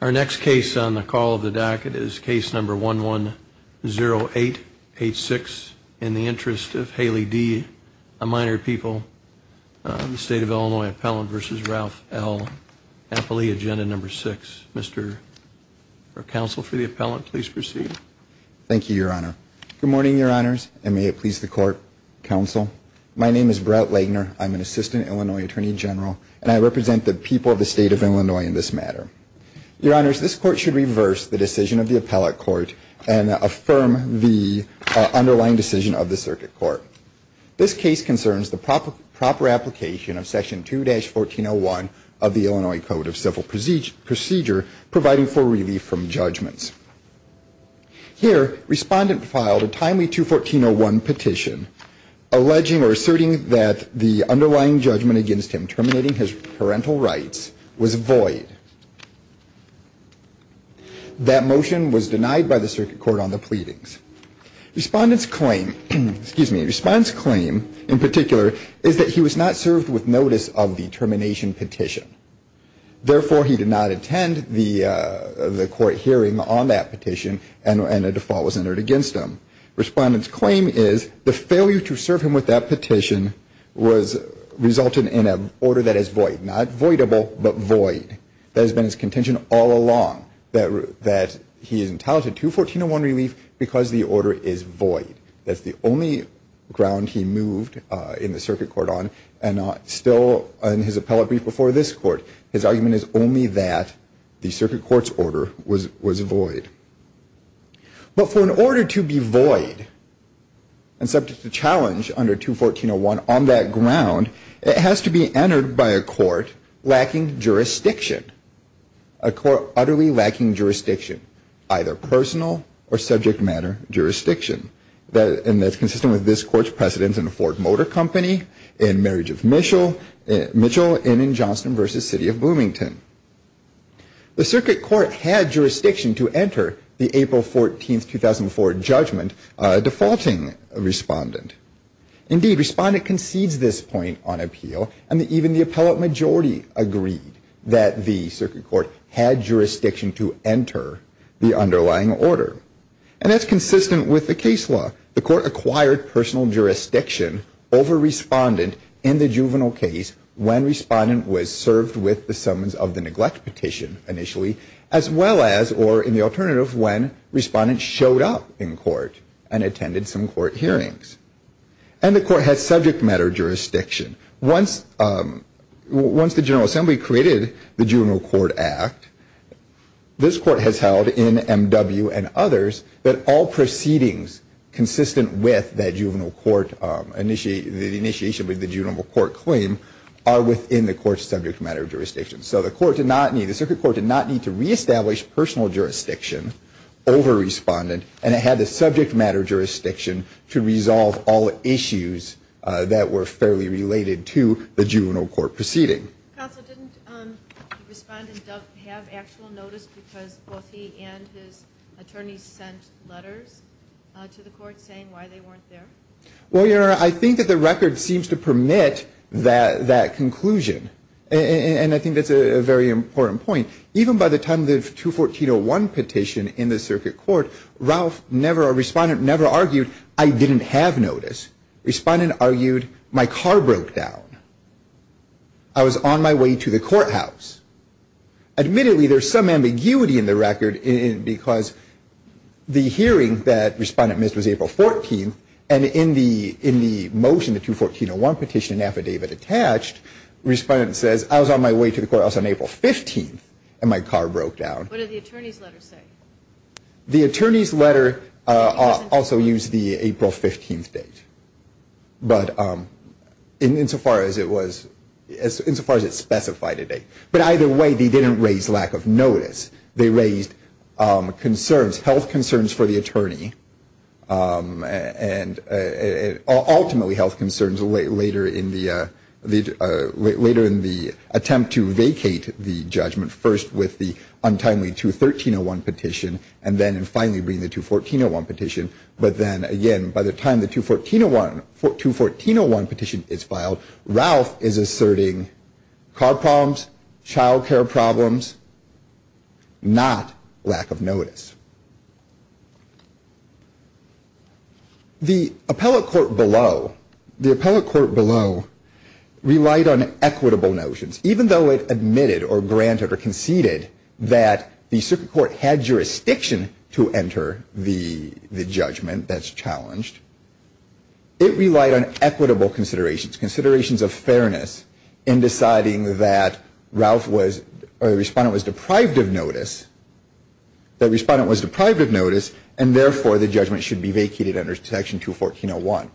Our next case on the call of the docket is case number 110886. In the Interest of Haley D. A Minor People, the State of Illinois Appellant v. Ralph L. Appley, agenda number 6. Mr. Counsel for the appellant, please proceed. Thank you, Your Honor. Good morning, Your Honors, and may it please the Court, Counsel. My name is Brett Lagner. I'm an Assistant Illinois Attorney General, and I represent the people of the State of Illinois in this matter. Your Honors, this Court should reverse the decision of the appellate court and affirm the underlying decision of the circuit court. This case concerns the proper application of Section 2-1401 of the Illinois Code of Civil Procedure, providing for relief from judgments. Here, Respondent filed a timely 2-1401 petition alleging or asserting that the underlying judgment against him terminating his parental rights was void. That motion was denied by the circuit court on the pleadings. Respondent's claim, excuse me, Respondent's claim in particular is that he was not served with notice of the termination petition. Therefore, he did not attend the court hearing on that petition, and a default was entered against him. Respondent's claim is the failure to serve him with that petition resulted in an order that is void. Not voidable, but void. That has been his contention all along, that he is entitled to 2-1401 relief because the order is void. That's the only ground he moved in the circuit court on, and still in his appellate brief before this Court. His argument is only that the circuit court's order was void. But for an order to be void and subject to challenge under 2-1401 on that ground, it has to be entered by a court lacking jurisdiction. A court utterly lacking jurisdiction, either personal or subject matter jurisdiction. And that's consistent with this Court's precedence in the Ford Motor Company, in Marriage of Mitchell, and in Johnston v. City of Bloomington. The circuit court had jurisdiction to enter the April 14, 2004 judgment, defaulting Respondent. Indeed, Respondent concedes this point on appeal, and even the appellate majority agreed that the circuit court had jurisdiction to enter the underlying order. And that's consistent with the case law. The Court acquired personal jurisdiction over Respondent in the juvenile case when Respondent was served with the summons of the neglect petition initially, as well as, or in the alternative, when Respondent showed up in court and attended some court hearings. And the Court had subject matter jurisdiction. Once the General Assembly created the Juvenile Court Act, this Court has held in M.W. and others that all proceedings consistent with the initiation of the juvenile court claim are within the Court's subject matter jurisdiction. So the Court did not need, the circuit court did not need to reestablish personal jurisdiction over Respondent, and it had the subject matter jurisdiction to resolve all issues that were fairly related to the juvenile court proceeding. Counsel, didn't Respondent have actual notice because both he and his attorneys sent letters to the Court saying why they weren't there? Well, your Honor, I think that the record seems to permit that conclusion. And I think that's a very important point. Even by the time of the 214.01 petition in the circuit court, Respondent never argued, I didn't have notice. Respondent argued, my car broke down. I was on my way to the courthouse. Admittedly, there's some ambiguity in the record because the hearing that Respondent missed was April 14th, and in the motion, the 214.01 petition affidavit attached, Respondent says, I was on my way to the courthouse on April 15th, and my car broke down. What did the attorney's letter say? The attorney's letter also used the April 15th date, but insofar as it was, insofar as it specified a date. But either way, they didn't raise lack of notice. They raised concerns, health concerns for the attorney, and ultimately health concerns later in the attempt to vacate the judgment, first with the untimely 213.01 petition, and then finally bring the 214.01 petition. But then again, by the time the 214.01 petition is filed, Ralph is asserting car problems, child care problems, not lack of notice. The appellate court below relied on equitable notions. Even though it admitted or granted or conceded that the circuit court had jurisdiction to enter the judgment that's challenged, it relied on equitable considerations, considerations of fairness in deciding that Ralph was, or the Respondent was deprived of notice, that Respondent was deprived of notice, and therefore the judgment should be vacated under Section 214.01.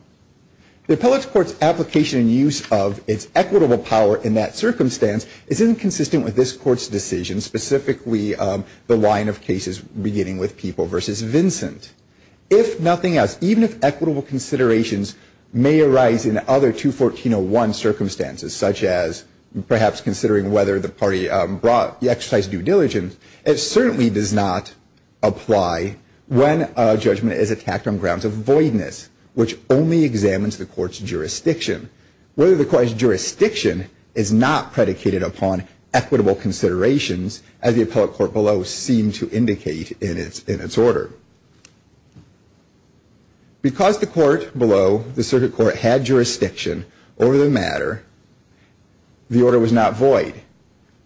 The appellate court's application and use of its equitable power in that circumstance is inconsistent with this court's decision, specifically the line of cases beginning with People v. Vincent. If nothing else, even if equitable considerations may arise in other 214.01 circumstances, such as perhaps considering whether the party exercised due diligence, it certainly does not apply when a judgment is attacked on grounds of voidness, which only examines the court's jurisdiction. Whether the court's jurisdiction is not predicated upon equitable considerations, as the appellate court below seemed to indicate in its order. Because the court below, the circuit court, had jurisdiction over the matter, the order was not void.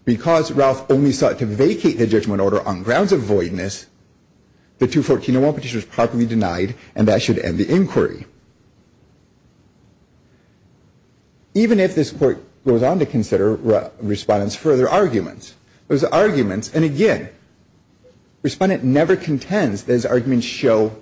Because Ralph only sought to vacate the judgment order on grounds of voidness, the 214.01 petition was properly denied, and that should end the inquiry. Even if this court goes on to consider Respondent's further arguments. Those arguments, and again, Respondent never contends that his arguments show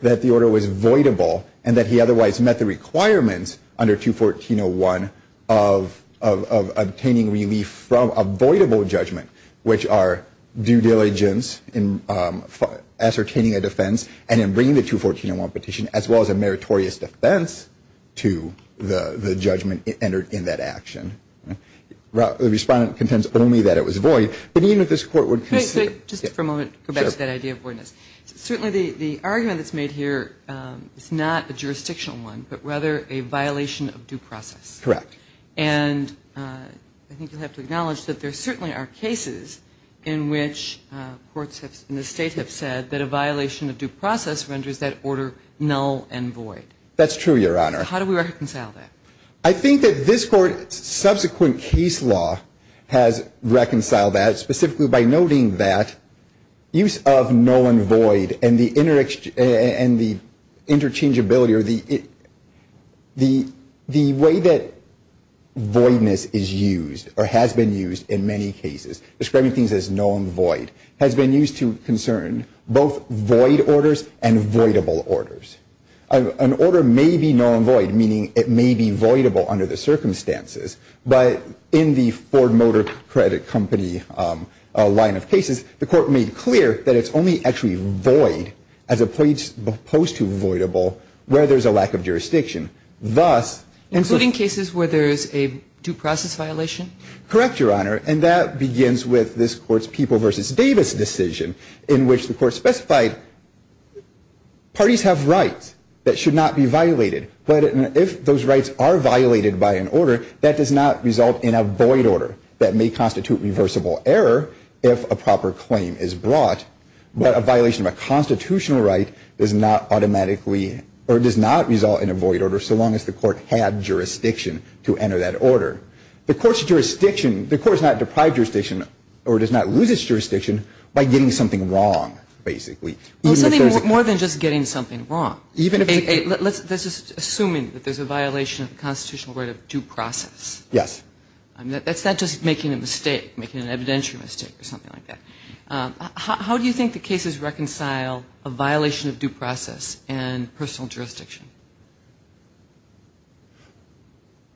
that the order was voidable and that he otherwise met the requirements under 214.01 of obtaining relief from a voidable judgment, which are due diligence in ascertaining a defense and in bringing the 214.01 petition, as well as a meritorious defense to the judgment entered in that action. Respondent contends only that it was void, but even if this court would consider. Just for a moment, go back to that idea of voidness. Certainly the argument that's made here is not a jurisdictional one, but rather a violation of due process. Correct. And I think you'll have to acknowledge that there certainly are cases in which courts in the State have said that a violation of due process renders that order null and void. That's true, Your Honor. How do we reconcile that? I think that this court's subsequent case law has reconciled that, specifically by noting that use of null and void and the interchangeability or the way that voidness is used or has been used in many cases, describing things as null and void, has been used to concern both void orders and voidable orders. An order may be null and void, meaning it may be voidable under the circumstances, but in the Ford Motor Credit Company line of cases, the Court made clear that it's only actually void as opposed to voidable where there's a lack of jurisdiction. Thus — Including cases where there's a due process violation? Correct, Your Honor. And that begins with this Court's People v. Davis decision, in which the Court specified parties have rights that should not be violated, but if those rights are violated by an order, that does not result in a void order. That may constitute reversible error if a proper claim is brought, but a violation of a constitutional right does not automatically — or does not result in a void order so long as the Court had jurisdiction to enter that order. The Court's jurisdiction — the Court's not deprived jurisdiction or does not lose its jurisdiction by getting something wrong, basically. Well, something more than just getting something wrong. Even if — Let's just — assuming that there's a violation of the constitutional right of due process. Yes. That's not just making a mistake, making an evidentiary mistake or something like that. How do you think the cases reconcile a violation of due process and personal jurisdiction?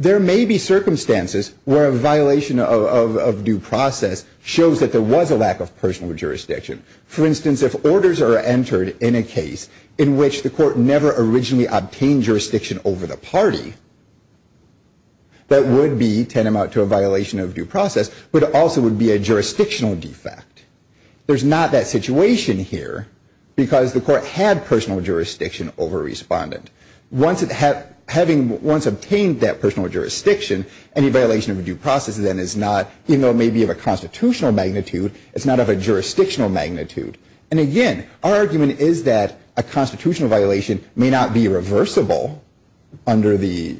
There may be circumstances where a violation of due process shows that there was a lack of personal jurisdiction. For instance, if orders are entered in a case in which the Court never originally obtained jurisdiction over the party, that would be tantamount to a violation of due process, but it also would be a jurisdictional defect. There's not that situation here because the Court had personal jurisdiction over respondent. Having once obtained that personal jurisdiction, any violation of due process then is not — even though it may be of a constitutional magnitude, it's not of a jurisdictional magnitude. And again, our argument is that a constitutional violation may not be reversible under the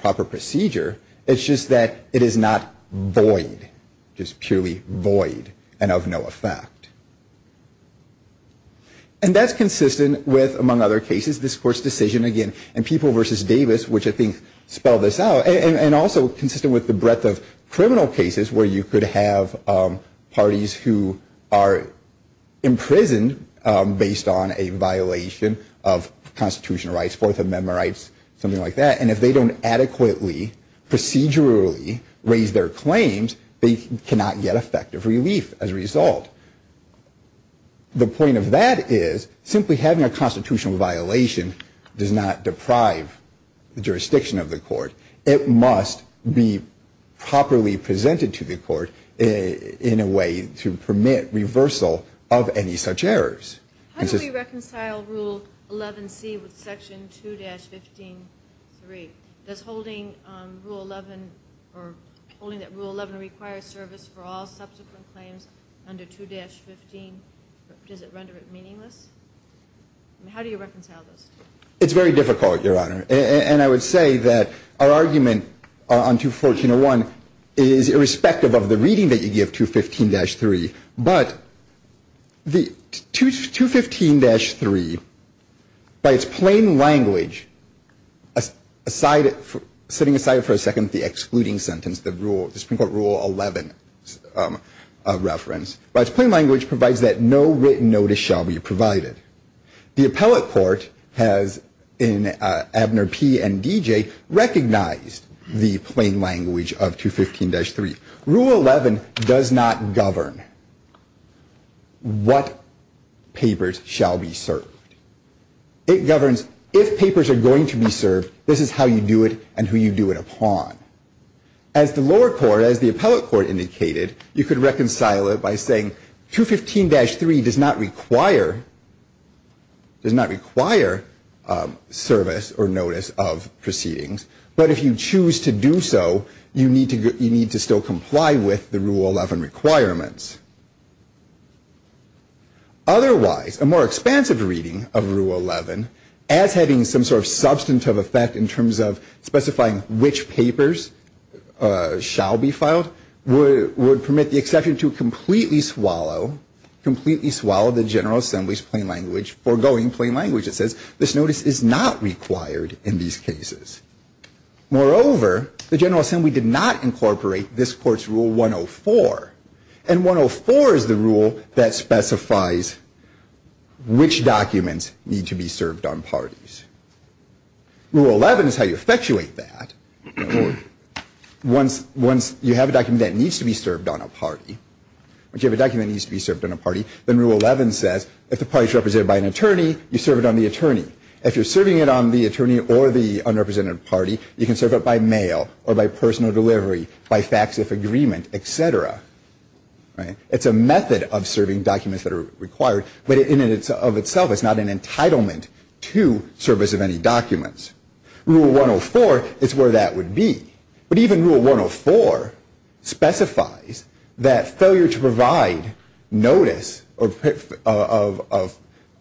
proper procedure. It's just that it is not void, just purely void and of no effect. And that's consistent with, among other cases, this Court's decision, again, in People v. Davis, which I think spelled this out, and also consistent with the breadth of criminal cases where you could have parties who are imprisoned based on a violation of constitutional rights, Fourth Amendment rights, something like that, and if they don't adequately, procedurally raise their claims, they cannot get effective relief as a result. The point of that is simply having a constitutional violation does not deprive the jurisdiction of the Court. It must be properly presented to the Court in a way to permit reversal of any such errors. How do we reconcile Rule 11C with Section 2-15-3? Does holding Rule 11, or holding that Rule 11 requires service for all subsequent claims under 2-15, does it render it meaningless? How do you reconcile those two? It's very difficult, Your Honor. And I would say that our argument on 214-01 is irrespective of the reading that you give 215-3. But 215-3, by its plain language, setting aside for a second the excluding sentence, the Supreme Court Rule 11 reference, by its plain language provides that no written notice shall be provided. The appellate court has, in Abner P. and D.J., recognized the plain language of 215-3. Rule 11 does not govern what papers shall be served. It governs if papers are going to be served, this is how you do it and who you do it upon. As the lower court, as the appellate court indicated, you could reconcile it by saying 215-3 does not require service or notice of proceedings. But if you choose to do so, you need to still comply with the Rule 11 requirements. Otherwise, a more expansive reading of Rule 11, as having some sort of substantive effect in terms of specifying which papers shall be filed, would permit the exception to completely swallow the General Assembly's plain language, it says this notice is not required in these cases. Moreover, the General Assembly did not incorporate this court's Rule 104. And 104 is the rule that specifies which documents need to be served on parties. Rule 11 is how you effectuate that. Once you have a document that needs to be served on a party, then Rule 11 says if the party is represented by an attorney, you serve it on the attorney. If you're serving it on the attorney or the unrepresented party, you can serve it by mail or by personal delivery, by fax-if agreement, etc. It's a method of serving documents that are required, but in and of itself it's not an entitlement to service of any documents. Rule 104 is where that would be. But even Rule 104 specifies that failure to provide notice of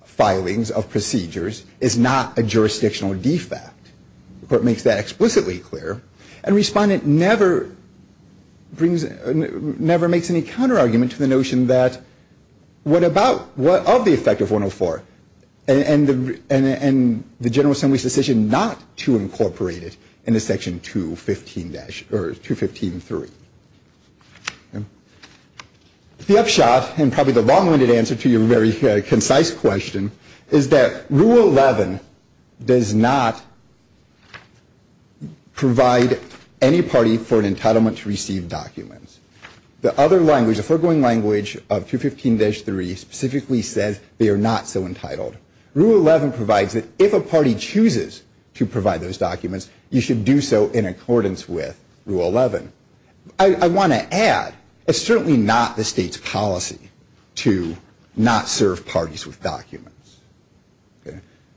filings, of procedures, is not a jurisdictional defect. The court makes that explicitly clear, and Respondent never makes any counterargument to the notion that what of the effect of 104 and the General Assembly's decision not to incorporate it into Section 215-3. The upshot, and probably the long-winded answer to your very concise question, is that Rule 11 does not provide any party for an entitlement to receive documents. The other language, the foregoing language of 215-3 specifically says they are not so entitled. Rule 11 provides that if a party chooses to provide those documents, you should do so in accordance with Rule 11. I want to add, it's certainly not the state's policy to not serve parties with documents.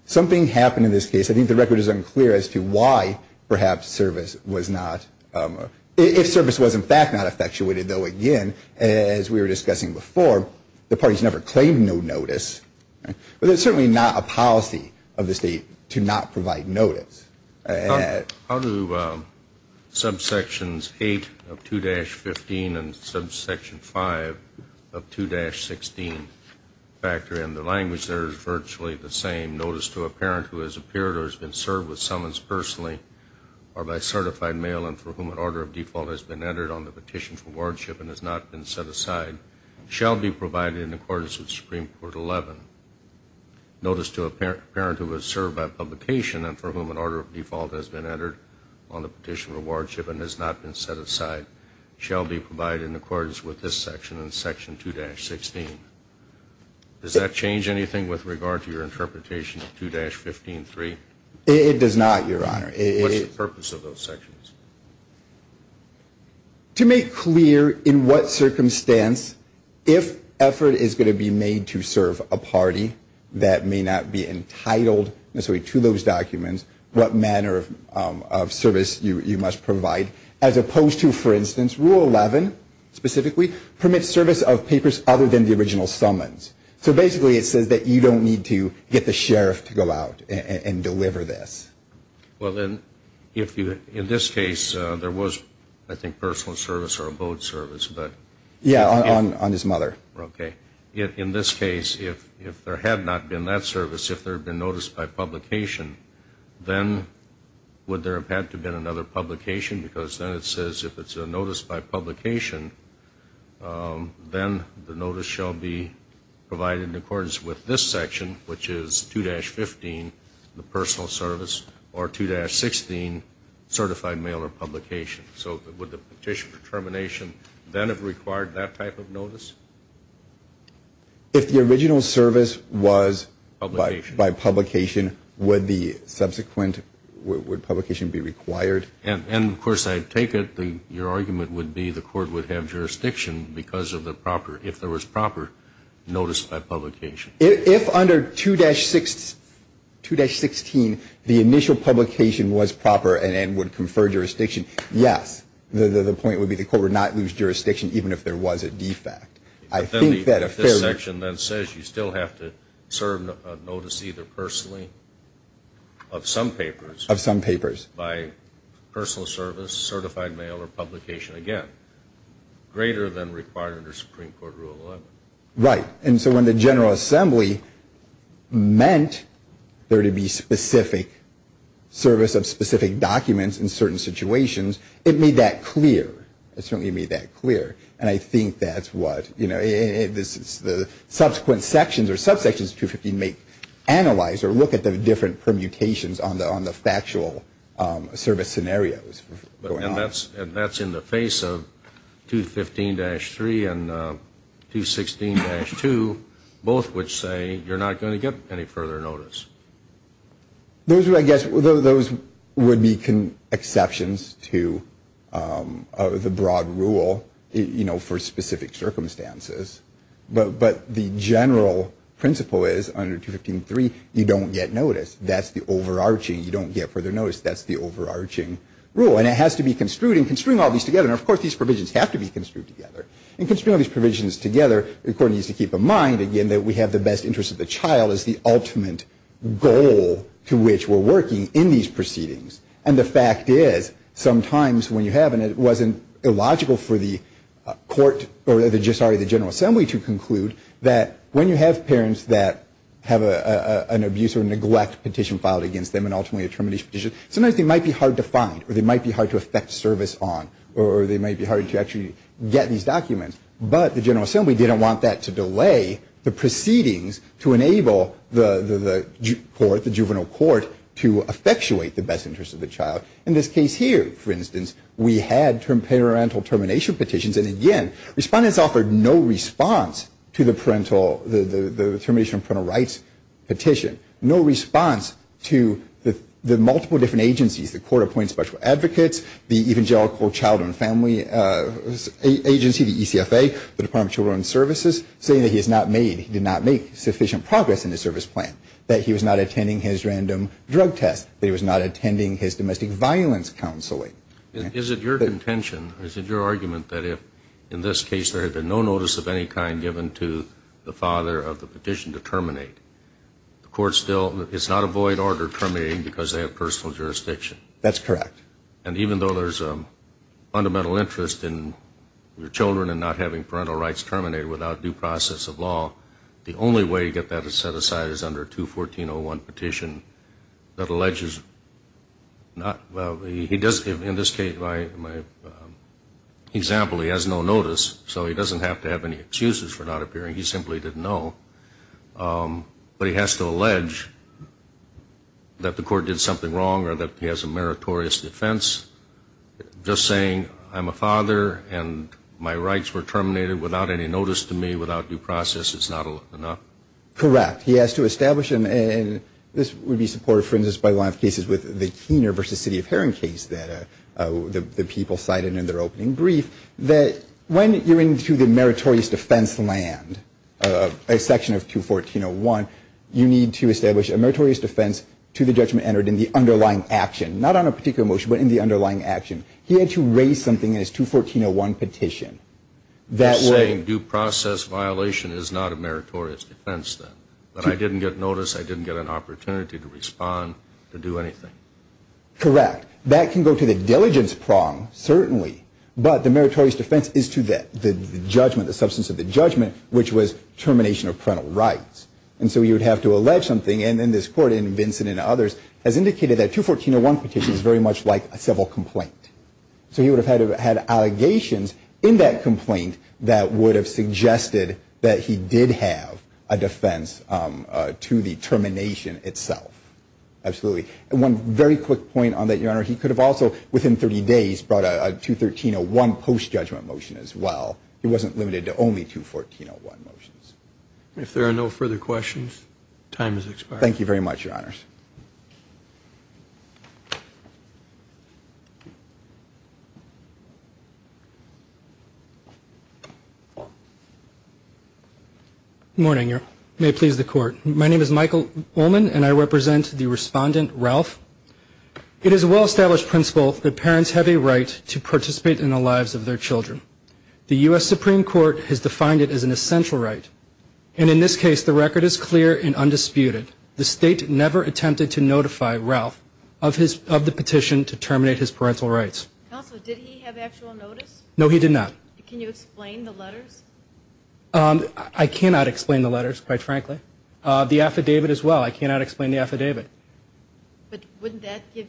Something happened in this case, I think the record is unclear, as to why perhaps service was not, if service was in fact not effectuated, though again, as we were discussing before, the parties never claimed no notice. But it's certainly not a policy of the state to not provide notice. How do subsections 8 of 2-15 and subsection 5 of 2-16 factor in? The language there is virtually the same. Notice to a parent who has appeared or has been served with summons personally or by certified mail and for whom an order of default has been entered on the petition for wardship and has not been set aside shall be provided in accordance with Supreme Court 11. Notice to a parent who has served by publication and for whom an order of default has been entered on the petition for wardship and has not been set aside shall be provided in accordance with this section in Section 2-16. Does that change anything with regard to your interpretation of 2-15-3? It does not, Your Honor. What's the purpose of those sections? To make clear in what circumstance, if effort is going to be made to serve a party that may not be entitled necessarily to those documents, what manner of service you must provide. As opposed to, for instance, Rule 11, specifically, permit service of papers other than the original summons. So, basically, it says that you don't need to get the sheriff to go out and deliver this. Well, then, in this case, there was, I think, personal service or a boat service. Yeah, on his mother. Okay. In this case, if there had not been that service, if there had been notice by publication, then would there have had to have been another publication? Because then it says if it's a notice by publication, then the notice shall be provided in accordance with this section, which is 2-15, the personal service, or 2-16, certified mail or publication. So would the petition for termination then have required that type of notice? If the original service was by publication, would the subsequent publication be required? And, of course, I take it your argument would be the court would have jurisdiction because of the proper, if there was proper notice by publication. If under 2-16, the initial publication was proper and would confer jurisdiction, yes. The point would be the court would not lose jurisdiction even if there was a defect. I think that a fair... This section then says you still have to serve a notice either personally of some papers... Of some papers. By personal service, certified mail, or publication. Again, greater than required under Supreme Court Rule 11. Right. And so when the General Assembly meant there to be specific service of specific documents in certain situations, it made that clear. It certainly made that clear. And I think that's what, you know, the subsequent sections or subsections of 2-15 make, analyze or look at the different permutations on the factual service scenarios going on. And that's in the face of 2-15-3 and 2-16-2, both which say you're not going to get any further notice. Those, I guess, would be exceptions to the broad rule, you know, for specific circumstances. But the general principle is under 2-15-3 you don't get notice. That's the overarching. You don't get further notice. That's the overarching rule. And it has to be construed. And construing all these together, and of course these provisions have to be construed together. And construing all these provisions together, the court needs to keep in mind, again, that we have the best interest of the child as the ultimate goal to which we're working in these proceedings. And the fact is, sometimes when you have, and it wasn't illogical for the court, or sorry, the General Assembly to conclude that when you have parents that have an abuse or neglect petition filed against them and ultimately a termination petition, sometimes they might be hard to find or they might be hard to effect service on or they might be hard to actually get these documents. But the General Assembly didn't want that to delay the proceedings to enable the court, the juvenile court, to effectuate the best interest of the child. In this case here, for instance, we had parental termination petitions. And again, respondents offered no response to the parental, the termination of parental rights petition, no response to the multiple different agencies, the Court of Appointed Special Advocates, the Evangelical Child and Family Agency, the ECFA, the Department of Children's Services, saying that he has not made, he did not make sufficient progress in his service plan, that he was not attending his random drug test, that he was not attending his domestic violence counseling. Is it your contention, is it your argument that if in this case there had been no notice of any kind given to the father of the petition to terminate, the court still, it's not a void order terminating because they have personal jurisdiction? That's correct. And even though there's a fundamental interest in your children and not having parental rights terminated without due process of law, the only way to get that set aside is under 214.01 petition that alleges not, in this case, my example, he has no notice, so he doesn't have to have any excuses for not appearing, he simply didn't know. But he has to allege that the court did something wrong or that he has a meritorious defense, just saying I'm a father and my rights were terminated without any notice to me, without due process, it's not enough? Correct. He has to establish, and this would be supported, for instance, by a lot of cases with the Keener v. City of Heron case that the people cited in their opening brief, that when you're into the meritorious defense land, a section of 214.01, you need to establish a meritorious defense to the judgment entered in the underlying action, not on a particular motion, but in the underlying action. He had to raise something in his 214.01 petition. You're saying due process violation is not a meritorious defense then, that I didn't get notice, I didn't get an opportunity to respond, to do anything? Correct. That can go to the diligence prong, certainly, but the meritorious defense is to the judgment, the substance of the judgment, which was termination of parental rights. And so you would have to allege something, and then this court in Vincent and others has indicated that 214.01 petition is very much like a civil complaint. So he would have had allegations in that complaint that would have suggested that he did have a defense to the termination itself. Absolutely. And one very quick point on that, Your Honor, he could have also within 30 days brought a 213.01 post-judgment motion as well. He wasn't limited to only 214.01 motions. If there are no further questions, time has expired. Thank you very much, Your Honors. Good morning. May it please the Court. My name is Michael Ullman, and I represent the respondent, Ralph. It is a well-established principle that parents have a right to participate in the lives of their children. The U.S. Supreme Court has defined it as an essential right, and in this case the record is clear and undisputed. The State never attempted to notify Ralph of the petition to terminate his parental rights. Counsel, did he have actual notice? No, he did not. Can you explain the letters? I cannot explain the letters, quite frankly. The affidavit as well, I cannot explain the affidavit. But wouldn't that give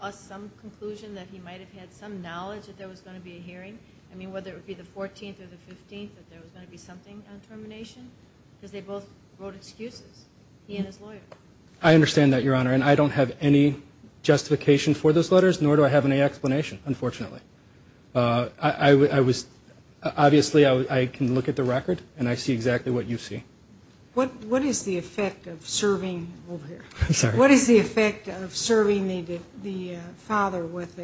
us some conclusion that he might have had some knowledge that there was going to be a hearing? I mean, whether it would be the 14th or the 15th, that there was going to be something on termination? Because they both wrote excuses, he and his lawyer. I understand that, Your Honor, and I don't have any justification for those letters, nor do I have any explanation, unfortunately. Obviously, I can look at the record, and I see exactly what you see. What is the effect of serving the father with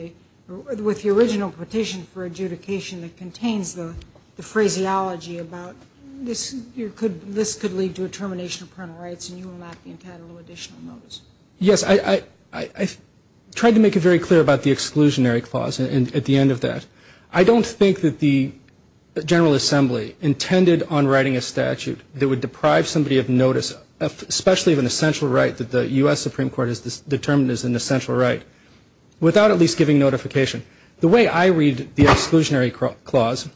the original petition for adjudication? The petition that contains the phraseology about this could lead to a termination of parental rights and you will not be entitled to additional notice. Yes, I tried to make it very clear about the exclusionary clause at the end of that. I don't think that the General Assembly intended on writing a statute that would deprive somebody of notice, especially of an essential right that the U.S. Supreme Court has determined is an essential right, without at least giving notification. The way I read the exclusionary clause,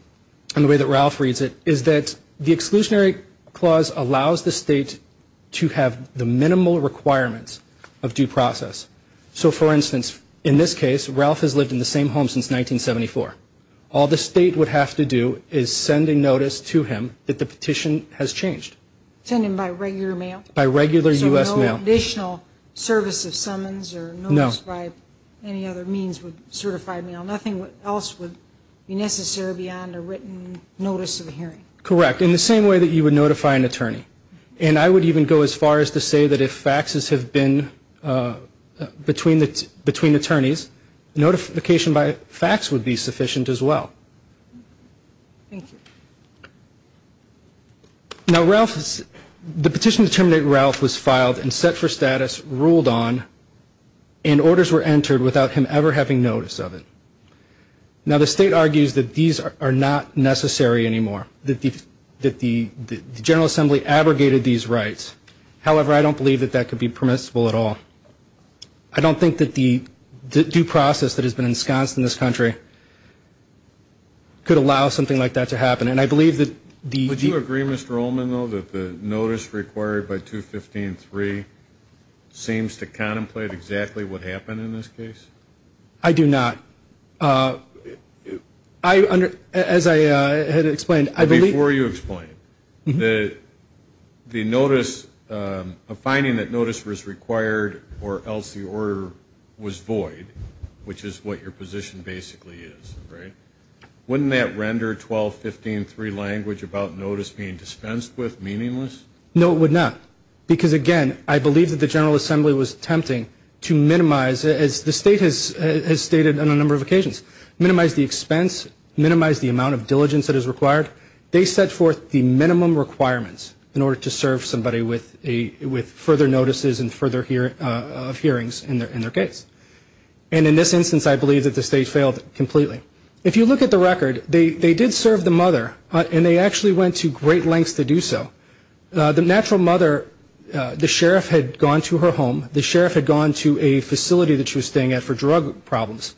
and the way that Ralph reads it, is that the exclusionary clause allows the state to have the minimal requirements of due process. So, for instance, in this case, Ralph has lived in the same home since 1974. All the state would have to do is send a notice to him that the petition has changed. Send him by regular mail? By regular U.S. mail. So no additional service of summons or notice by any other means would certify mail. Nothing else would be necessary beyond a written notice of hearing. Correct. In the same way that you would notify an attorney. And I would even go as far as to say that if faxes have been between attorneys, notification by fax would be sufficient as well. Thank you. Now, the petition to terminate Ralph was filed and set for status, ruled on, and orders were entered without him ever having notice of it. Now, the state argues that these are not necessary anymore, that the General Assembly abrogated these rights. However, I don't believe that that could be permissible at all. I don't think that the due process that has been ensconced in this country could allow something like that to happen. Would you agree, Mr. Ullman, though, that the notice required by 215.3 seems to contemplate exactly what happened in this case? I do not. As I had explained, I believe the notice, a finding that notice was required or else the order was void, which is what your position basically is, right? Wouldn't that render 1215.3 language about notice being dispensed with meaningless? No, it would not. Because, again, I believe that the General Assembly was attempting to minimize, as the state has stated on a number of occasions, minimize the expense, minimize the amount of diligence that is required. They set forth the minimum requirements in order to serve somebody with further notices and further hearings in their case. And in this instance, I believe that the state failed completely. If you look at the record, they did serve the mother, and they actually went to great lengths to do so. The natural mother, the sheriff had gone to her home. The sheriff had gone to a facility that she was staying at for drug problems.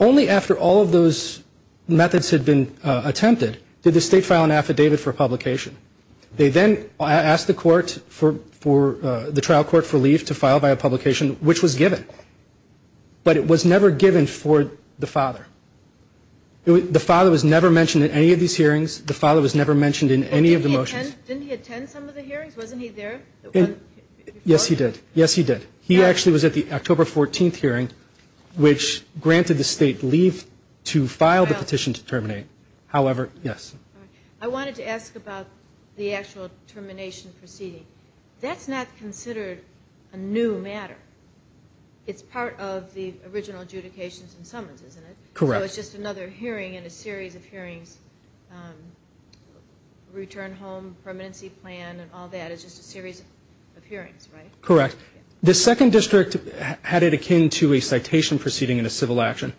Only after all of those methods had been attempted did the state file an affidavit for publication. They then asked the trial court for leave to file a publication, which was given. But it was never given for the father. The father was never mentioned in any of these hearings. The father was never mentioned in any of the motions. Didn't he attend some of the hearings? Wasn't he there? Yes, he did. Yes, he did. He actually was at the October 14th hearing, which granted the state leave to file the petition to terminate. However, yes. I wanted to ask about the actual termination proceeding. That's not considered a new matter. It's part of the original adjudications and summons, isn't it? Correct. So it's just another hearing in a series of hearings, return home, permanency plan, and all that. It's just a series of hearings, right? Correct. The second district had it akin to a citation proceeding in a civil action.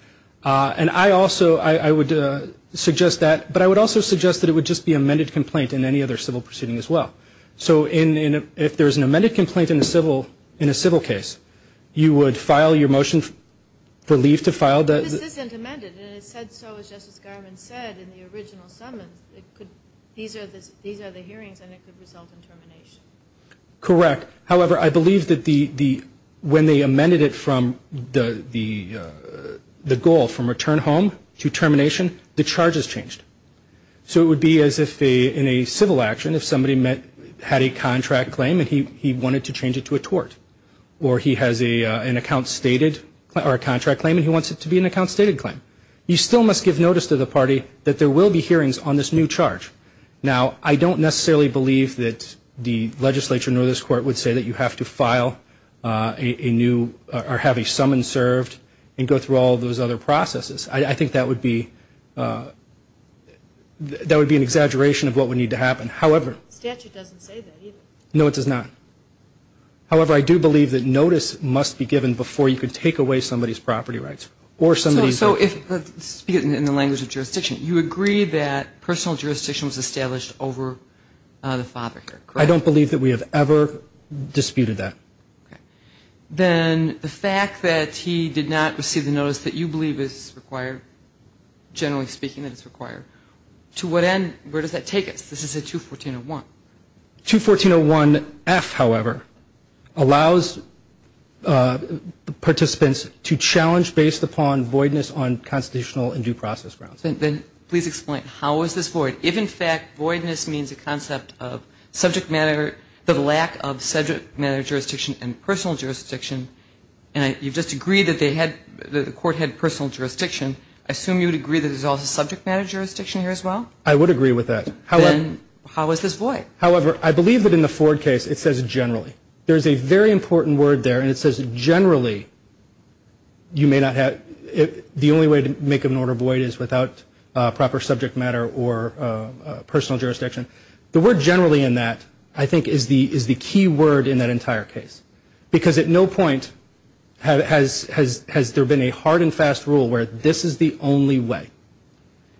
And I also, I would suggest that, but I would also suggest that it would just be amended complaint in any other civil proceeding as well. So if there's an amended complaint in a civil case, you would file your motion for leave to file. But this isn't amended. And it said so, as Justice Garland said, in the original summons. These are the hearings, and it could result in termination. Correct. However, I believe that when they amended it from the goal, from return home to termination, the charges changed. So it would be as if in a civil action, if somebody had a contract claim and he wanted to change it to a tort, or he has an account stated, or a contract claim, and he wants it to be an account stated claim. You still must give notice to the party that there will be hearings on this new charge. Now, I don't necessarily believe that the legislature nor this court would say that you have to file a new or have a summons served and go through all those other processes. I think that would be an exaggeration of what would need to happen. However. The statute doesn't say that either. No, it does not. However, I do believe that notice must be given before you could take away somebody's property rights or somebody's. So if, speaking in the language of jurisdiction, you agree that personal jurisdiction was established over the father here, correct? I don't believe that we have ever disputed that. Okay. Then the fact that he did not receive the notice that you believe is required, generally speaking that it's required, to what end, where does that take us? This is a 214-01. 214-01-F, however, allows participants to challenge based upon voidness on constitutional and due process grounds. Please explain. How is this void? If, in fact, voidness means a concept of subject matter, the lack of subject matter jurisdiction and personal jurisdiction, and you just agree that the court had personal jurisdiction, I assume you would agree that there's also subject matter jurisdiction here as well? I would agree with that. Then how is this void? However, I believe that in the Ford case it says generally. There's a very important word there, and it says generally. You may not have the only way to make an order void is without proper subject matter or personal jurisdiction. The word generally in that, I think, is the key word in that entire case, because at no point has there been a hard and fast rule where this is the only way.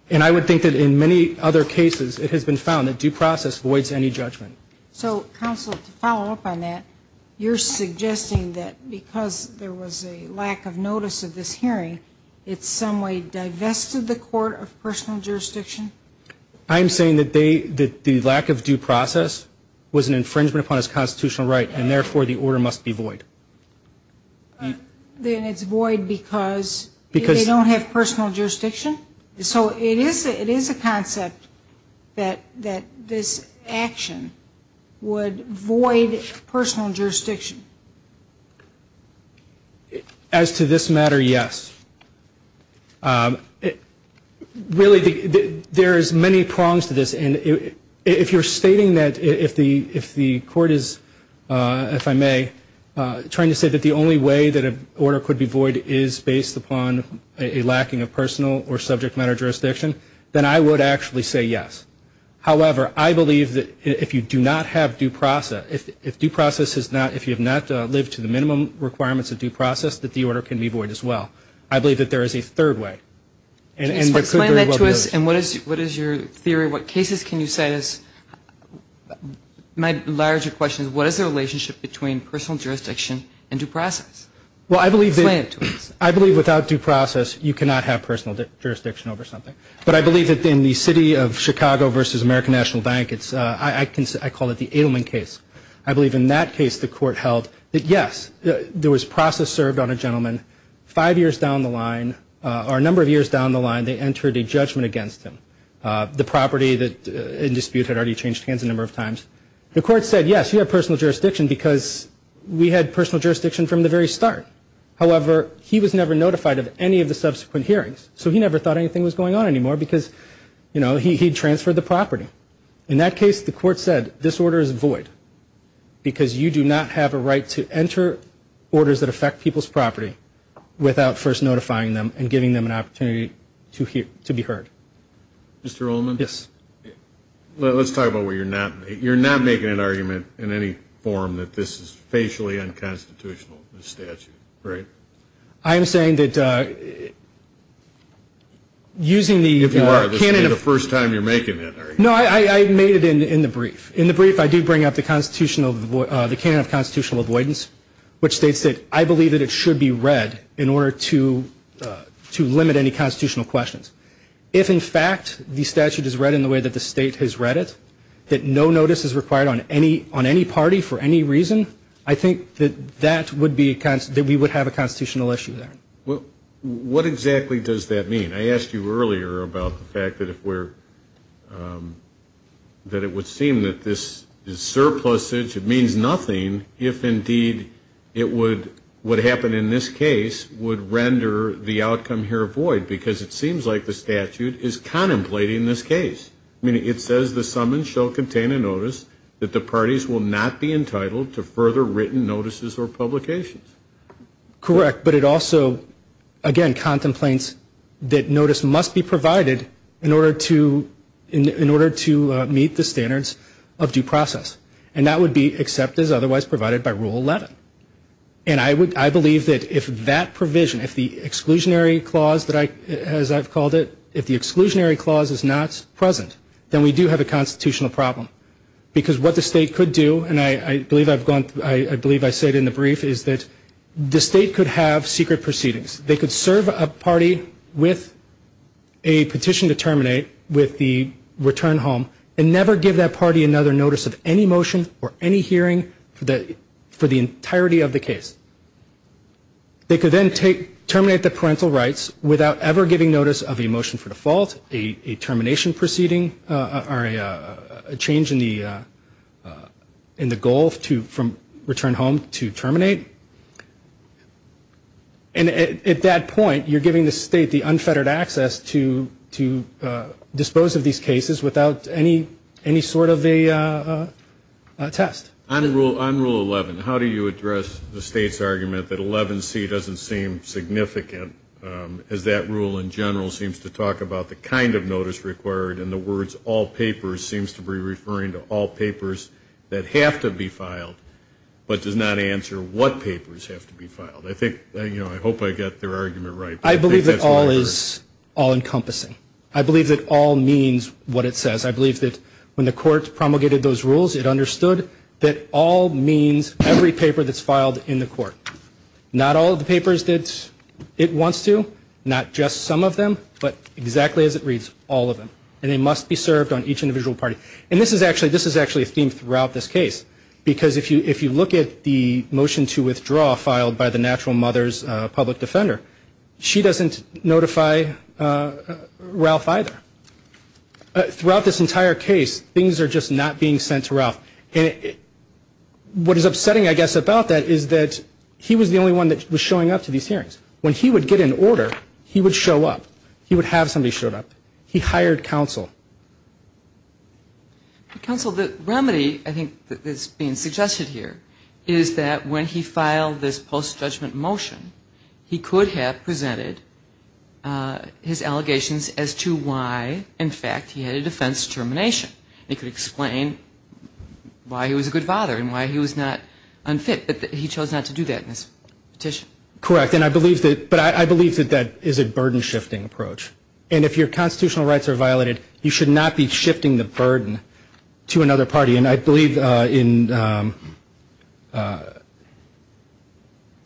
And I would think that in many other cases it has been found that due process voids any judgment. So, counsel, to follow up on that, you're suggesting that because there was a lack of notice of this hearing, it some way divested the court of personal jurisdiction? I'm saying that the lack of due process was an infringement upon its constitutional right, and therefore the order must be void. Then it's void because they don't have personal jurisdiction? So it is a concept that this action would void personal jurisdiction? As to this matter, yes. Really, there's many prongs to this. If you're stating that if the court is, if I may, trying to say that the only way that an order could be void is based upon a lacking of personal or subject matter jurisdiction, then I would actually say yes. However, I believe that if you do not have due process, if due process is not, if you have not lived to the minimum requirements of due process, that the order can be void as well. I believe that there is a third way. Explain that to us, and what is your theory? What cases can you say is, my larger question is, what is the relationship between personal jurisdiction and due process? Explain it to us. I believe without due process, you cannot have personal jurisdiction over something. But I believe that in the city of Chicago versus American National Bank, I call it the Adelman case. I believe in that case the court held that, yes, there was process served on a gentleman five years down the line, or a number of years down the line, they entered a judgment against him. The property in dispute had already changed hands a number of times. The court said, yes, you have personal jurisdiction because we had personal jurisdiction from the very start. However, he was never notified of any of the subsequent hearings, so he never thought anything was going on anymore because, you know, he transferred the property. In that case, the court said, this order is void because you do not have a right to enter orders that affect people's property without first notifying them and giving them an opportunity to be heard. Mr. Ullman? Yes. Let's talk about where you're not. You're not making an argument in any form that this is facially unconstitutional, the statute, right? I am saying that using the canon of- If you are, this is the first time you're making that argument. No, I made it in the brief. In the brief, I do bring up the canon of constitutional avoidance, which states that I believe that it should be read in order to limit any constitutional questions. If, in fact, the statute is read in the way that the state has read it, that no notice is required on any party for any reason, I think that we would have a constitutional issue there. What exactly does that mean? I asked you earlier about the fact that it would seem that this is surplusage. It means nothing if, indeed, what happened in this case would render the outcome here void because it seems like the statute is contemplating this case. I mean, it says the summons shall contain a notice that the parties will not be entitled to further written notices or publications. Correct. But it also, again, contemplates that notice must be provided in order to meet the standards of due process. And that would be except as otherwise provided by Rule 11. And I believe that if that provision, if the exclusionary clause, as I've called it, if the exclusionary clause is not present, then we do have a constitutional problem. Because what the state could do, and I believe I've gone through, I believe I said in the brief, is that the state could have secret proceedings. They could serve a party with a petition to terminate with the return home and never give that party another notice of any motion or any hearing for the entirety of the case. They could then terminate the parental rights without ever giving notice of a motion for default, a termination proceeding or a change in the goal from return home to terminate. And at that point, you're giving the state the unfettered access to dispose of these cases without any sort of a test. On Rule 11, how do you address the state's argument that 11C doesn't seem significant, as that rule in general seems to talk about the kind of notice required and the words all papers seems to be referring to all papers that have to be filed but does not answer what papers have to be filed? I think, you know, I hope I got their argument right. I believe that all is all-encompassing. I believe that all means what it says. I believe that when the court promulgated those rules, it understood that all means every paper that's filed in the court. Not all of the papers that it wants to, not just some of them, but exactly as it reads, all of them. And they must be served on each individual party. And this is actually a theme throughout this case, because if you look at the motion to withdraw filed by the natural mother's public defender, she doesn't notify Ralph either. Throughout this entire case, things are just not being sent to Ralph. What is upsetting, I guess, about that is that he was the only one that was showing up to these hearings. When he would get an order, he would show up. He would have somebody show up. He hired counsel. Counsel, the remedy, I think, that's being suggested here is that when he filed this post-judgment motion, he could have presented his allegations as to why, in fact, he had a defense determination. He could explain why he was a good father and why he was not unfit. But he chose not to do that in this petition. Correct. And I believe that that is a burden-shifting approach. And if your constitutional rights are violated, you should not be shifting the burden to another party. And I believe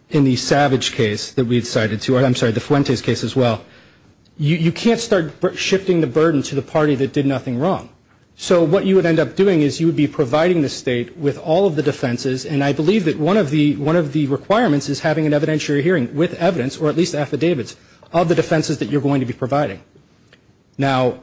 in the Savage case that we've cited, I'm sorry, the Fuentes case as well, you can't start shifting the burden to the party that did nothing wrong. So what you would end up doing is you would be providing the state with all of the defenses, and I believe that one of the requirements is having an evidentiary hearing with evidence, or at least affidavits, of the defenses that you're going to be providing. Now,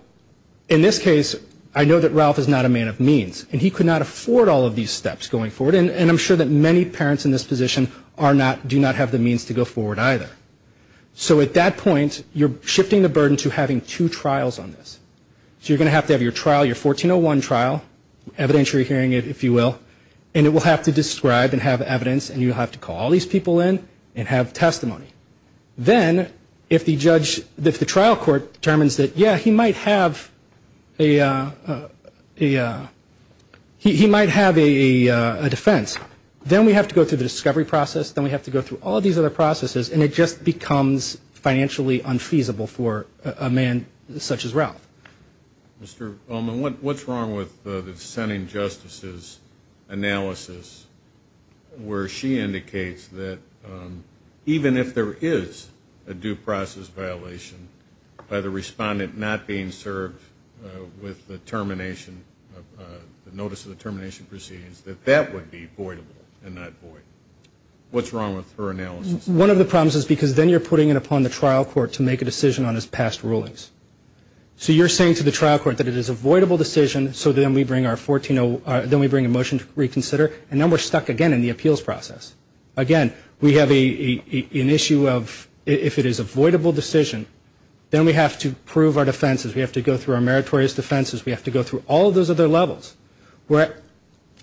in this case, I know that Ralph is not a man of means, and he could not afford all of these steps going forward. And I'm sure that many parents in this position do not have the means to go forward either. So at that point, you're shifting the burden to having two trials on this. So you're going to have to have your trial, your 1401 trial, evidentiary hearing, if you will, and it will have to describe and have evidence, and you'll have to call all these people in and have testimony. Then, if the trial court determines that, yeah, he might have a defense, then we have to go through the discovery process, then we have to go through all these other processes, and it just becomes financially unfeasible for a man such as Ralph. Mr. Ullman, what's wrong with the dissenting justice's analysis where she indicates that, even if there is a due process violation by the respondent not being served with the termination, the notice of the termination proceedings, that that would be voidable and not void? What's wrong with her analysis? One of the problems is because then you're putting it upon the trial court to make a decision on his past rulings. So you're saying to the trial court that it is a voidable decision, so then we bring a motion to reconsider, and then we're stuck again in the appeals process. Again, we have an issue of, if it is a voidable decision, then we have to prove our defenses. We have to go through our meritorious defenses. We have to go through all of those other levels.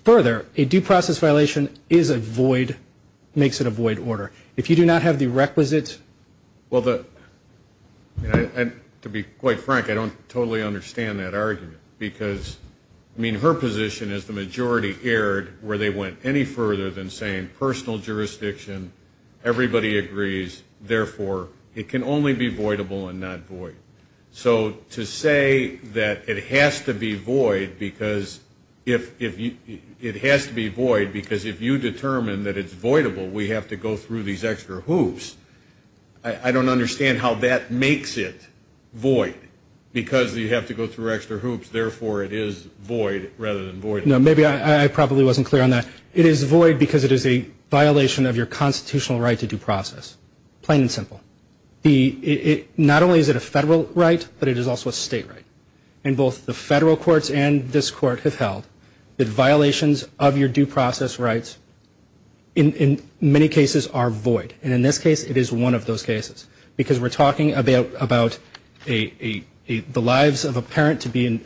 Further, a due process violation is a void, makes it a void order. If you do not have the requisite. Well, to be quite frank, I don't totally understand that argument because, I mean, her position is the majority erred where they went any further than saying personal jurisdiction, everybody agrees, therefore it can only be voidable and not void. So to say that it has to be void because if you determine that it's voidable, we have to go through these extra hoops, I don't understand how that makes it void because you have to go through extra hoops, therefore it is void rather than voidable. No, maybe I probably wasn't clear on that. It is void because it is a violation of your constitutional right to due process, plain and simple. Not only is it a federal right, but it is also a state right. And both the federal courts and this court have held that violations of your due process rights in many cases are void. And in this case, it is one of those cases because we're talking about the lives of a parent to be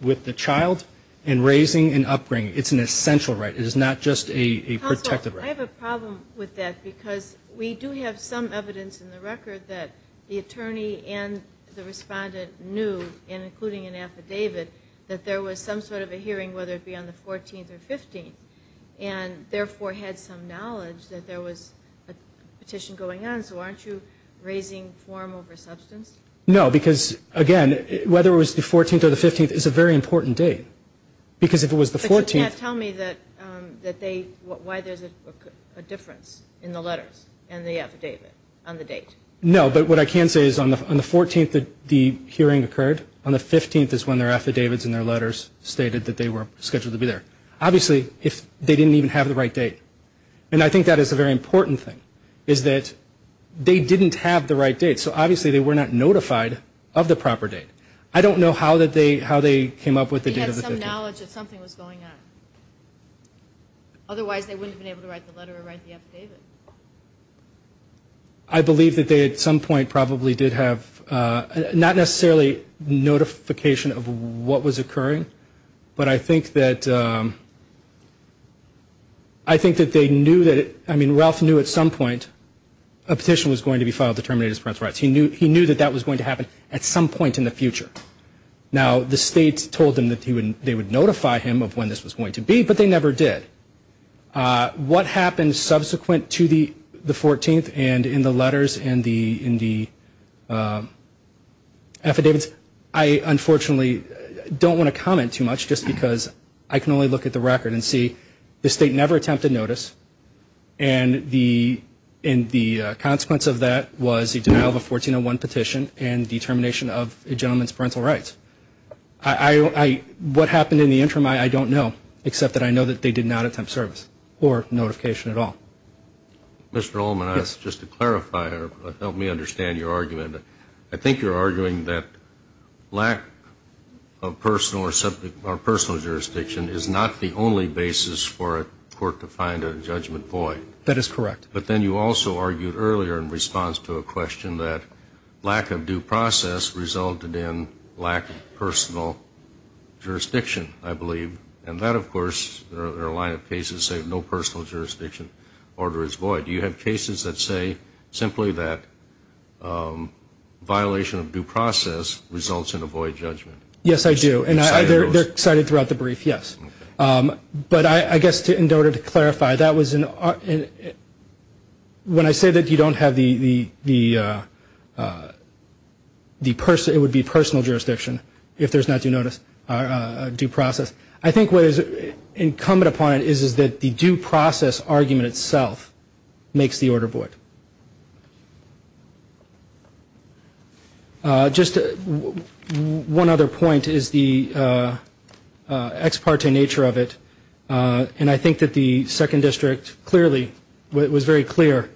with the child and raising and upbringing. It's an essential right. It is not just a protected right. I have a problem with that because we do have some evidence in the record that the attorney and the respondent knew, including an affidavit, that there was some sort of a hearing whether it be on the 14th or 15th and therefore had some knowledge that there was a petition going on. So aren't you raising form over substance? No, because, again, whether it was the 14th or the 15th is a very important date because if it was the 14th. But you can't tell me why there's a difference in the letters and the affidavit on the date. No, but what I can say is on the 14th, the hearing occurred. On the 15th is when their affidavits and their letters stated that they were scheduled to be there. Obviously, they didn't even have the right date. And I think that is a very important thing, is that they didn't have the right date. So, obviously, they were not notified of the proper date. I don't know how they came up with the date of the hearing. They had some knowledge that something was going on. Otherwise, they wouldn't have been able to write the letter or write the affidavit. I believe that they at some point probably did have not necessarily notification of what was occurring, but I think that they knew that it – I mean, Ralph knew at some point a petition was going to be filed to terminate his parents' rights. He knew that that was going to happen at some point in the future. Now, the state told them that they would notify him of when this was going to be, but they never did. What happened subsequent to the 14th and in the letters and the affidavits, I unfortunately don't want to comment too much just because I can only look at the record and see the state never attempted notice. And the consequence of that was the denial of a 1401 petition and determination of a gentleman's parental rights. What happened in the interim, I don't know, except that I know that they did not attempt service or notification at all. Mr. Ullman, just to clarify or help me understand your argument, I think you're arguing that lack of personal jurisdiction is not the only basis for a court to find a judgment void. That is correct. But then you also argued earlier in response to a question that lack of due process resulted in lack of personal jurisdiction, I believe. And that, of course, there are a line of cases that say no personal jurisdiction order is void. Do you have cases that say simply that violation of due process results in a void judgment? Yes, I do. And they're cited throughout the brief, yes. But I guess in order to clarify, when I say that it would be personal jurisdiction if there's not due process, I think what is incumbent upon it is that the due process argument itself makes the order void. Just one other point is the ex parte nature of it. And I think that the Second District clearly was very clear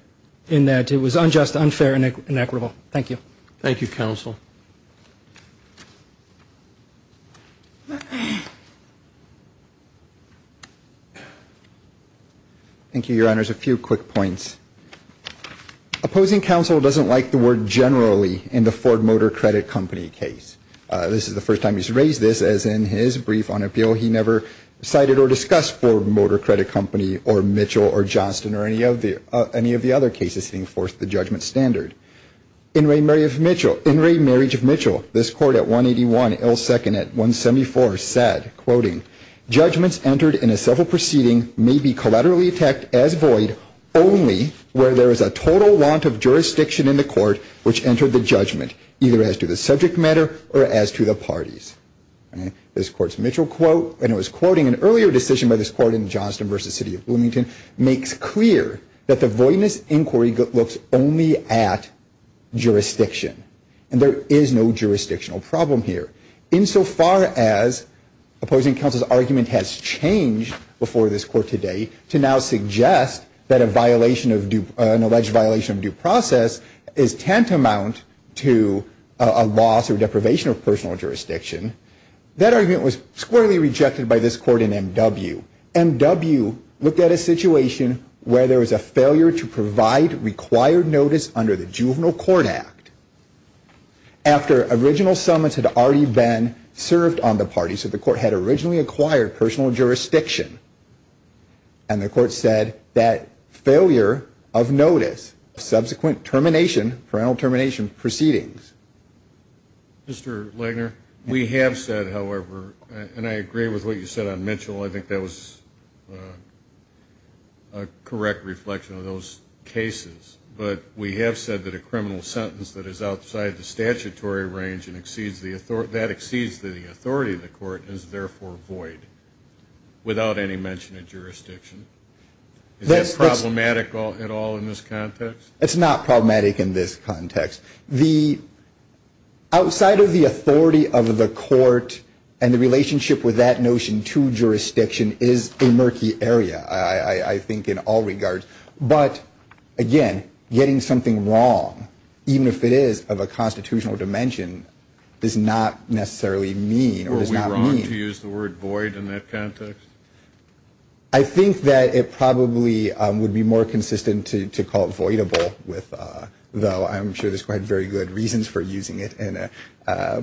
in that it was unjust, unfair, and inequitable. Thank you. Thank you, Counsel. Thank you, Your Honors. A few quick points. Opposing counsel doesn't like the word generally in the Ford Motor Credit Company case. This is the first time he's raised this, as in his brief on appeal, he never cited or discussed Ford Motor Credit Company or Mitchell or Johnston or any of the other cases setting forth the judgment standard. In re marriage of Mitchell, this court at 181, ill second at 174, said, Judgments entered in a civil proceeding may be collaterally attacked as void only where there is a total want of jurisdiction in the court which entered the judgment, either as to the subject matter or as to the parties. This court's Mitchell quote, and it was quoting an earlier decision by this court in Johnston versus City of Bloomington, makes clear that the voidness inquiry looks only at jurisdiction. And there is no jurisdictional problem here. In so far as opposing counsel's argument has changed before this court today to now suggest that a violation of due, an alleged violation of due process is tantamount to a loss or deprivation of personal jurisdiction, that argument was squarely rejected by this court in M.W. M.W. looked at a situation where there was a failure to provide required notice under the Juvenile Court Act. After original summons had already been served on the parties that the court had originally acquired personal jurisdiction. And the court said that failure of notice, subsequent termination, parental termination proceedings. Mr. Legner, we have said, however, and I agree with what you said on Mitchell. I think that was a correct reflection of those cases. But we have said that a criminal sentence that is outside the statutory range and exceeds the authority, that exceeds the authority of the court is therefore void without any mention of jurisdiction. Is that problematic at all in this context? It's not problematic in this context. The outside of the authority of the court and the relationship with that notion to jurisdiction is a murky area, I think, in all regards. But, again, getting something wrong, even if it is of a constitutional dimension, does not necessarily mean or does not mean. Were we wrong to use the word void in that context? I think that it probably would be more consistent to call it voidable, though I'm sure there's quite very good reasons for using it. Because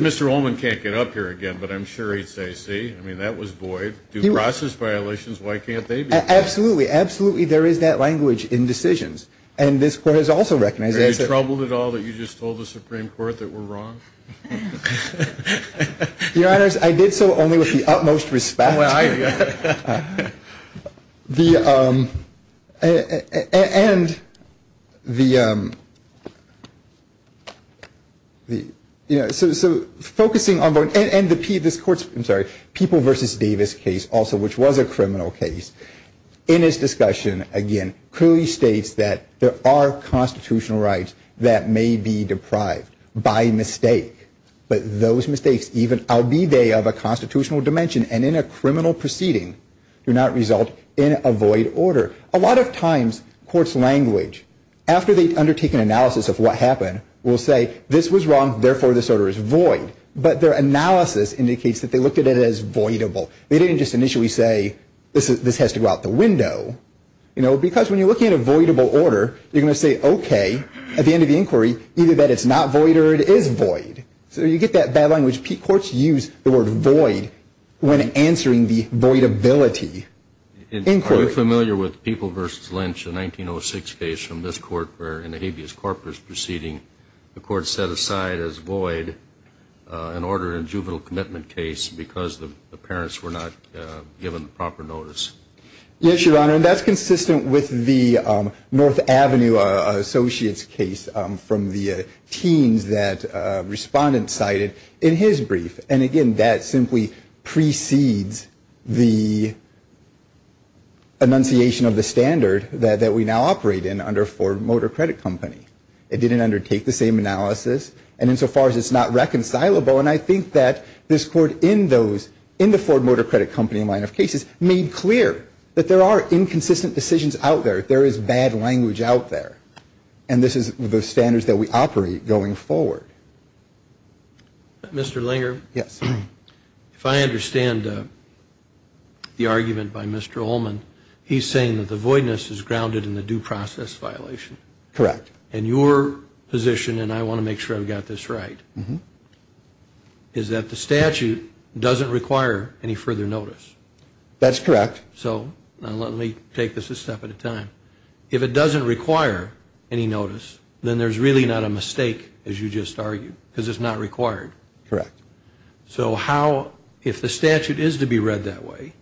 Mr. Ullman can't get up here again, but I'm sure he'd say, see, I mean, that was void. Due process violations, why can't they be? Absolutely, absolutely there is that language in decisions. And this Court has also recognized that. Are you troubled at all that you just told the Supreme Court that we're wrong? Your Honors, I did so only with the utmost respect. The, and the, you know, so focusing on, and this Court's, I'm sorry, People v. Davis case also, which was a criminal case, in its discussion, again, clearly states that there are constitutional rights that may be deprived by mistake. But those mistakes, albeit they of a constitutional dimension and in a criminal proceeding, do not result in a void order. A lot of times courts' language, after they undertake an analysis of what happened, will say this was wrong, therefore this order is void. But their analysis indicates that they looked at it as voidable. They didn't just initially say this has to go out the window. You know, because when you're looking at a voidable order, you're going to say, okay, at the end of the inquiry, either that it's not void or it is void. So you get that bad language. Courts use the word void when answering the voidability inquiry. Are we familiar with People v. Lynch, a 1906 case from this Court, where in a habeas corpus proceeding, the Court set aside as void an order, a juvenile commitment case, because the parents were not given proper notice? Yes, Your Honor. And that's consistent with the North Avenue Associates case from the teens that Respondent cited in his brief. And, again, that simply precedes the enunciation of the standard that we now operate in under Ford Motor Credit Company. It didn't undertake the same analysis. And insofar as it's not reconcilable, and I think that this Court in the Ford Motor Credit Company line of cases made clear that there are inconsistent decisions out there. There is bad language out there. And this is the standards that we operate going forward. Mr. Langer? Yes. If I understand the argument by Mr. Ullman, he's saying that the voidness is grounded in the due process violation. Correct. And your position, and I want to make sure I've got this right, is that the statute doesn't require any further notice. That's correct. So let me take this a step at a time. If it doesn't require any notice, then there's really not a mistake, as you just argued, because it's not required. Correct. So how, if the statute is to be read that way,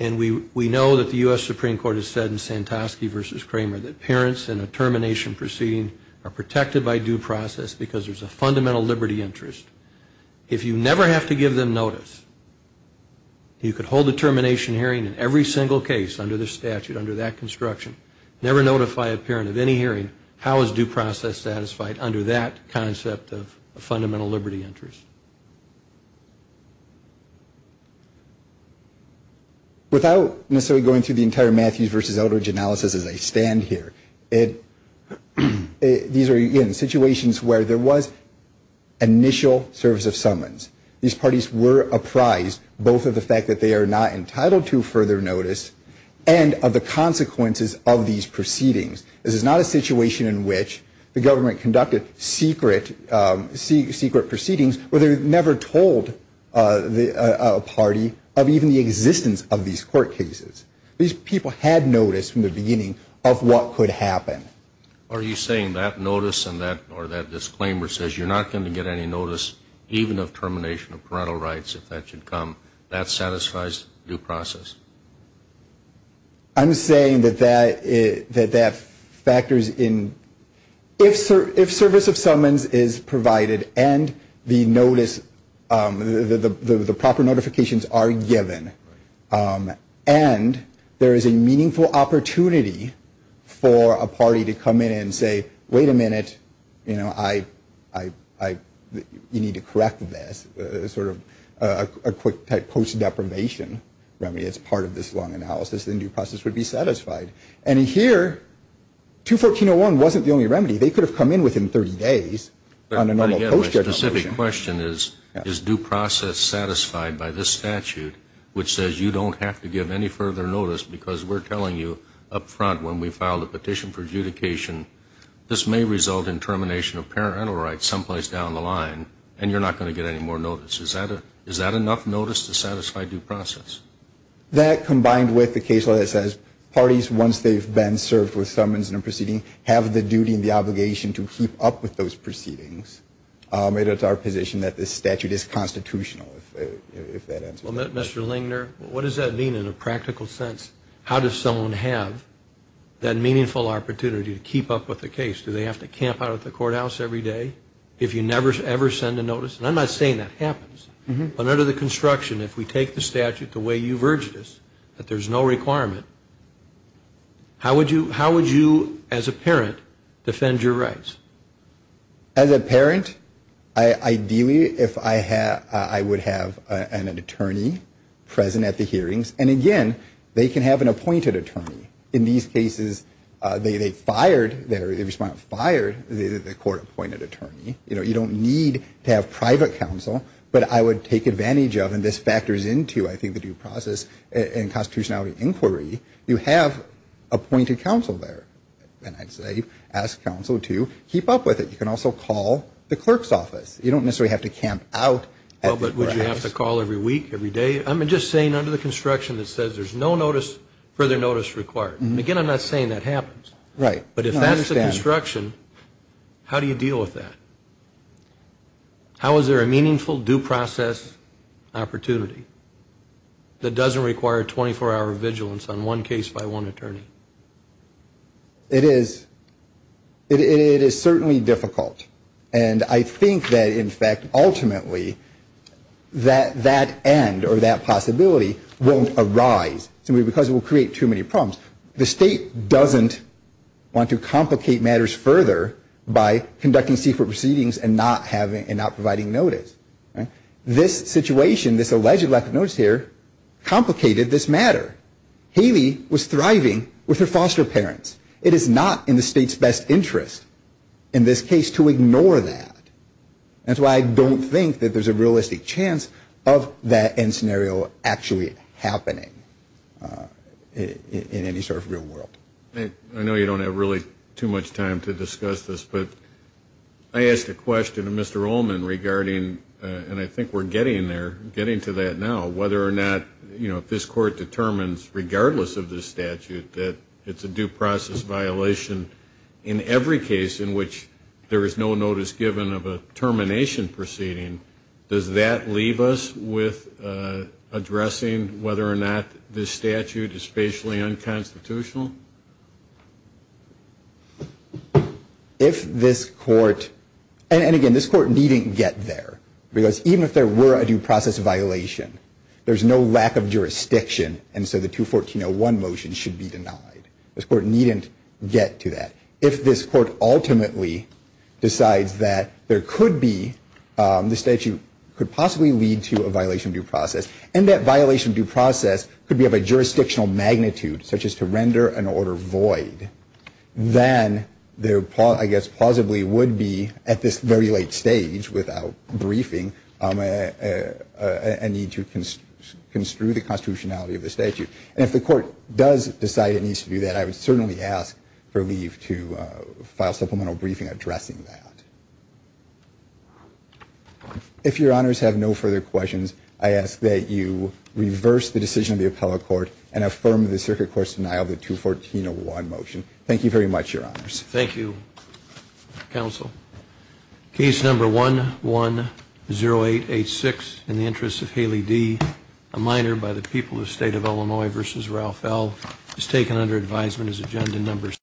and we know that the U.S. Supreme Court has said in Santosky v. Kramer that parents in a termination proceeding are protected by due process because there's a fundamental liberty interest, if you never have to give them notice, you could hold a termination hearing in every single case under the statute, under that construction, never notify a parent of any hearing, how is due process satisfied under that concept of a fundamental liberty interest? Without necessarily going through the entire Matthews v. Eldridge analysis as I stand here, these are, again, situations where there was initial service of summons. These parties were apprised both of the fact that they are not entitled to further notice and of the consequences of these proceedings. This is not a situation in which the government conducted secret proceedings where they never told a party of even the existence of these court cases. These people had notice from the beginning of what could happen. Are you saying that notice or that disclaimer says you're not going to get any notice, even of termination of parental rights if that should come, that satisfies due process? I'm saying that that factors in. If service of summons is provided and the notice, the proper notifications are given, and there is a meaningful opportunity for a party to come in and say, wait a minute, you know, you need to correct this, sort of a quick post-deprivation remedy that's part of this long analysis, then due process would be satisfied. And here, 214.01 wasn't the only remedy. They could have come in within 30 days on a normal post-judgmental issue. My question is, is due process satisfied by this statute, which says you don't have to give any further notice because we're telling you up front when we file the petition for adjudication, this may result in termination of parental rights someplace down the line and you're not going to get any more notice. Is that enough notice to satisfy due process? That combined with the case law that says parties, once they've been served with summons and a proceeding, have the duty and the obligation to keep up with those proceedings. I'll admit it's our position that this statute is constitutional, if that answers that. Mr. Lingner, what does that mean in a practical sense? How does someone have that meaningful opportunity to keep up with the case? Do they have to camp out at the courthouse every day if you never, ever send a notice? And I'm not saying that happens. But under the construction, if we take the statute the way you've urged us, that there's no requirement, how would you, as a parent, defend your rights? As a parent, ideally, I would have an attorney present at the hearings. And again, they can have an appointed attorney. In these cases, they fired, the respondent fired the court-appointed attorney. You know, you don't need to have private counsel. But I would take advantage of, and this factors into, I think, the due process and constitutionality inquiry, you have appointed counsel there. And I'd say ask counsel to keep up with it. You can also call the clerk's office. You don't necessarily have to camp out at the courthouse. Well, but would you have to call every week, every day? I'm just saying under the construction that says there's no further notice required. Again, I'm not saying that happens. Right. But if that's the construction, how do you deal with that? How is there a meaningful due process opportunity that doesn't require 24-hour vigilance on one case by one attorney? It is certainly difficult. And I think that, in fact, ultimately that end or that possibility won't arise simply because it will create too many problems. The state doesn't want to complicate matters further by conducting secret proceedings and not providing notice. This situation, this alleged lack of notice here, complicated this matter. Haley was thriving with her foster parents. It is not in the state's best interest in this case to ignore that. That's why I don't think that there's a realistic chance of that end scenario actually happening in any sort of real world. I know you don't have really too much time to discuss this, but I asked a question to Mr. regardless of this statute that it's a due process violation in every case in which there is no notice given of a termination proceeding. Does that leave us with addressing whether or not this statute is spatially unconstitutional? If this court, and again, this court needn't get there, because even if there were a due process violation, there's no lack of jurisdiction, and so the 214-01 motion should be denied. This court needn't get to that. If this court ultimately decides that there could be, the statute could possibly lead to a violation due process, and that violation due process could be of a jurisdictional magnitude, such as to render an order void, then there, I guess, plausibly would be, at this very late stage without briefing, a need to construe the constitutionality of the statute. And if the court does decide it needs to do that, I would certainly ask for leave to file supplemental briefing addressing that. If your honors have no further questions, I ask that you reverse the decision of the appellate court and affirm the circuit court's denial of the 214-01 motion. Thank you very much, your honors. Thank you, counsel. Case number 110886, in the interest of Haley D., a minor by the people of the state of Illinois versus Ralph L., is taken under advisement as agenda number 6.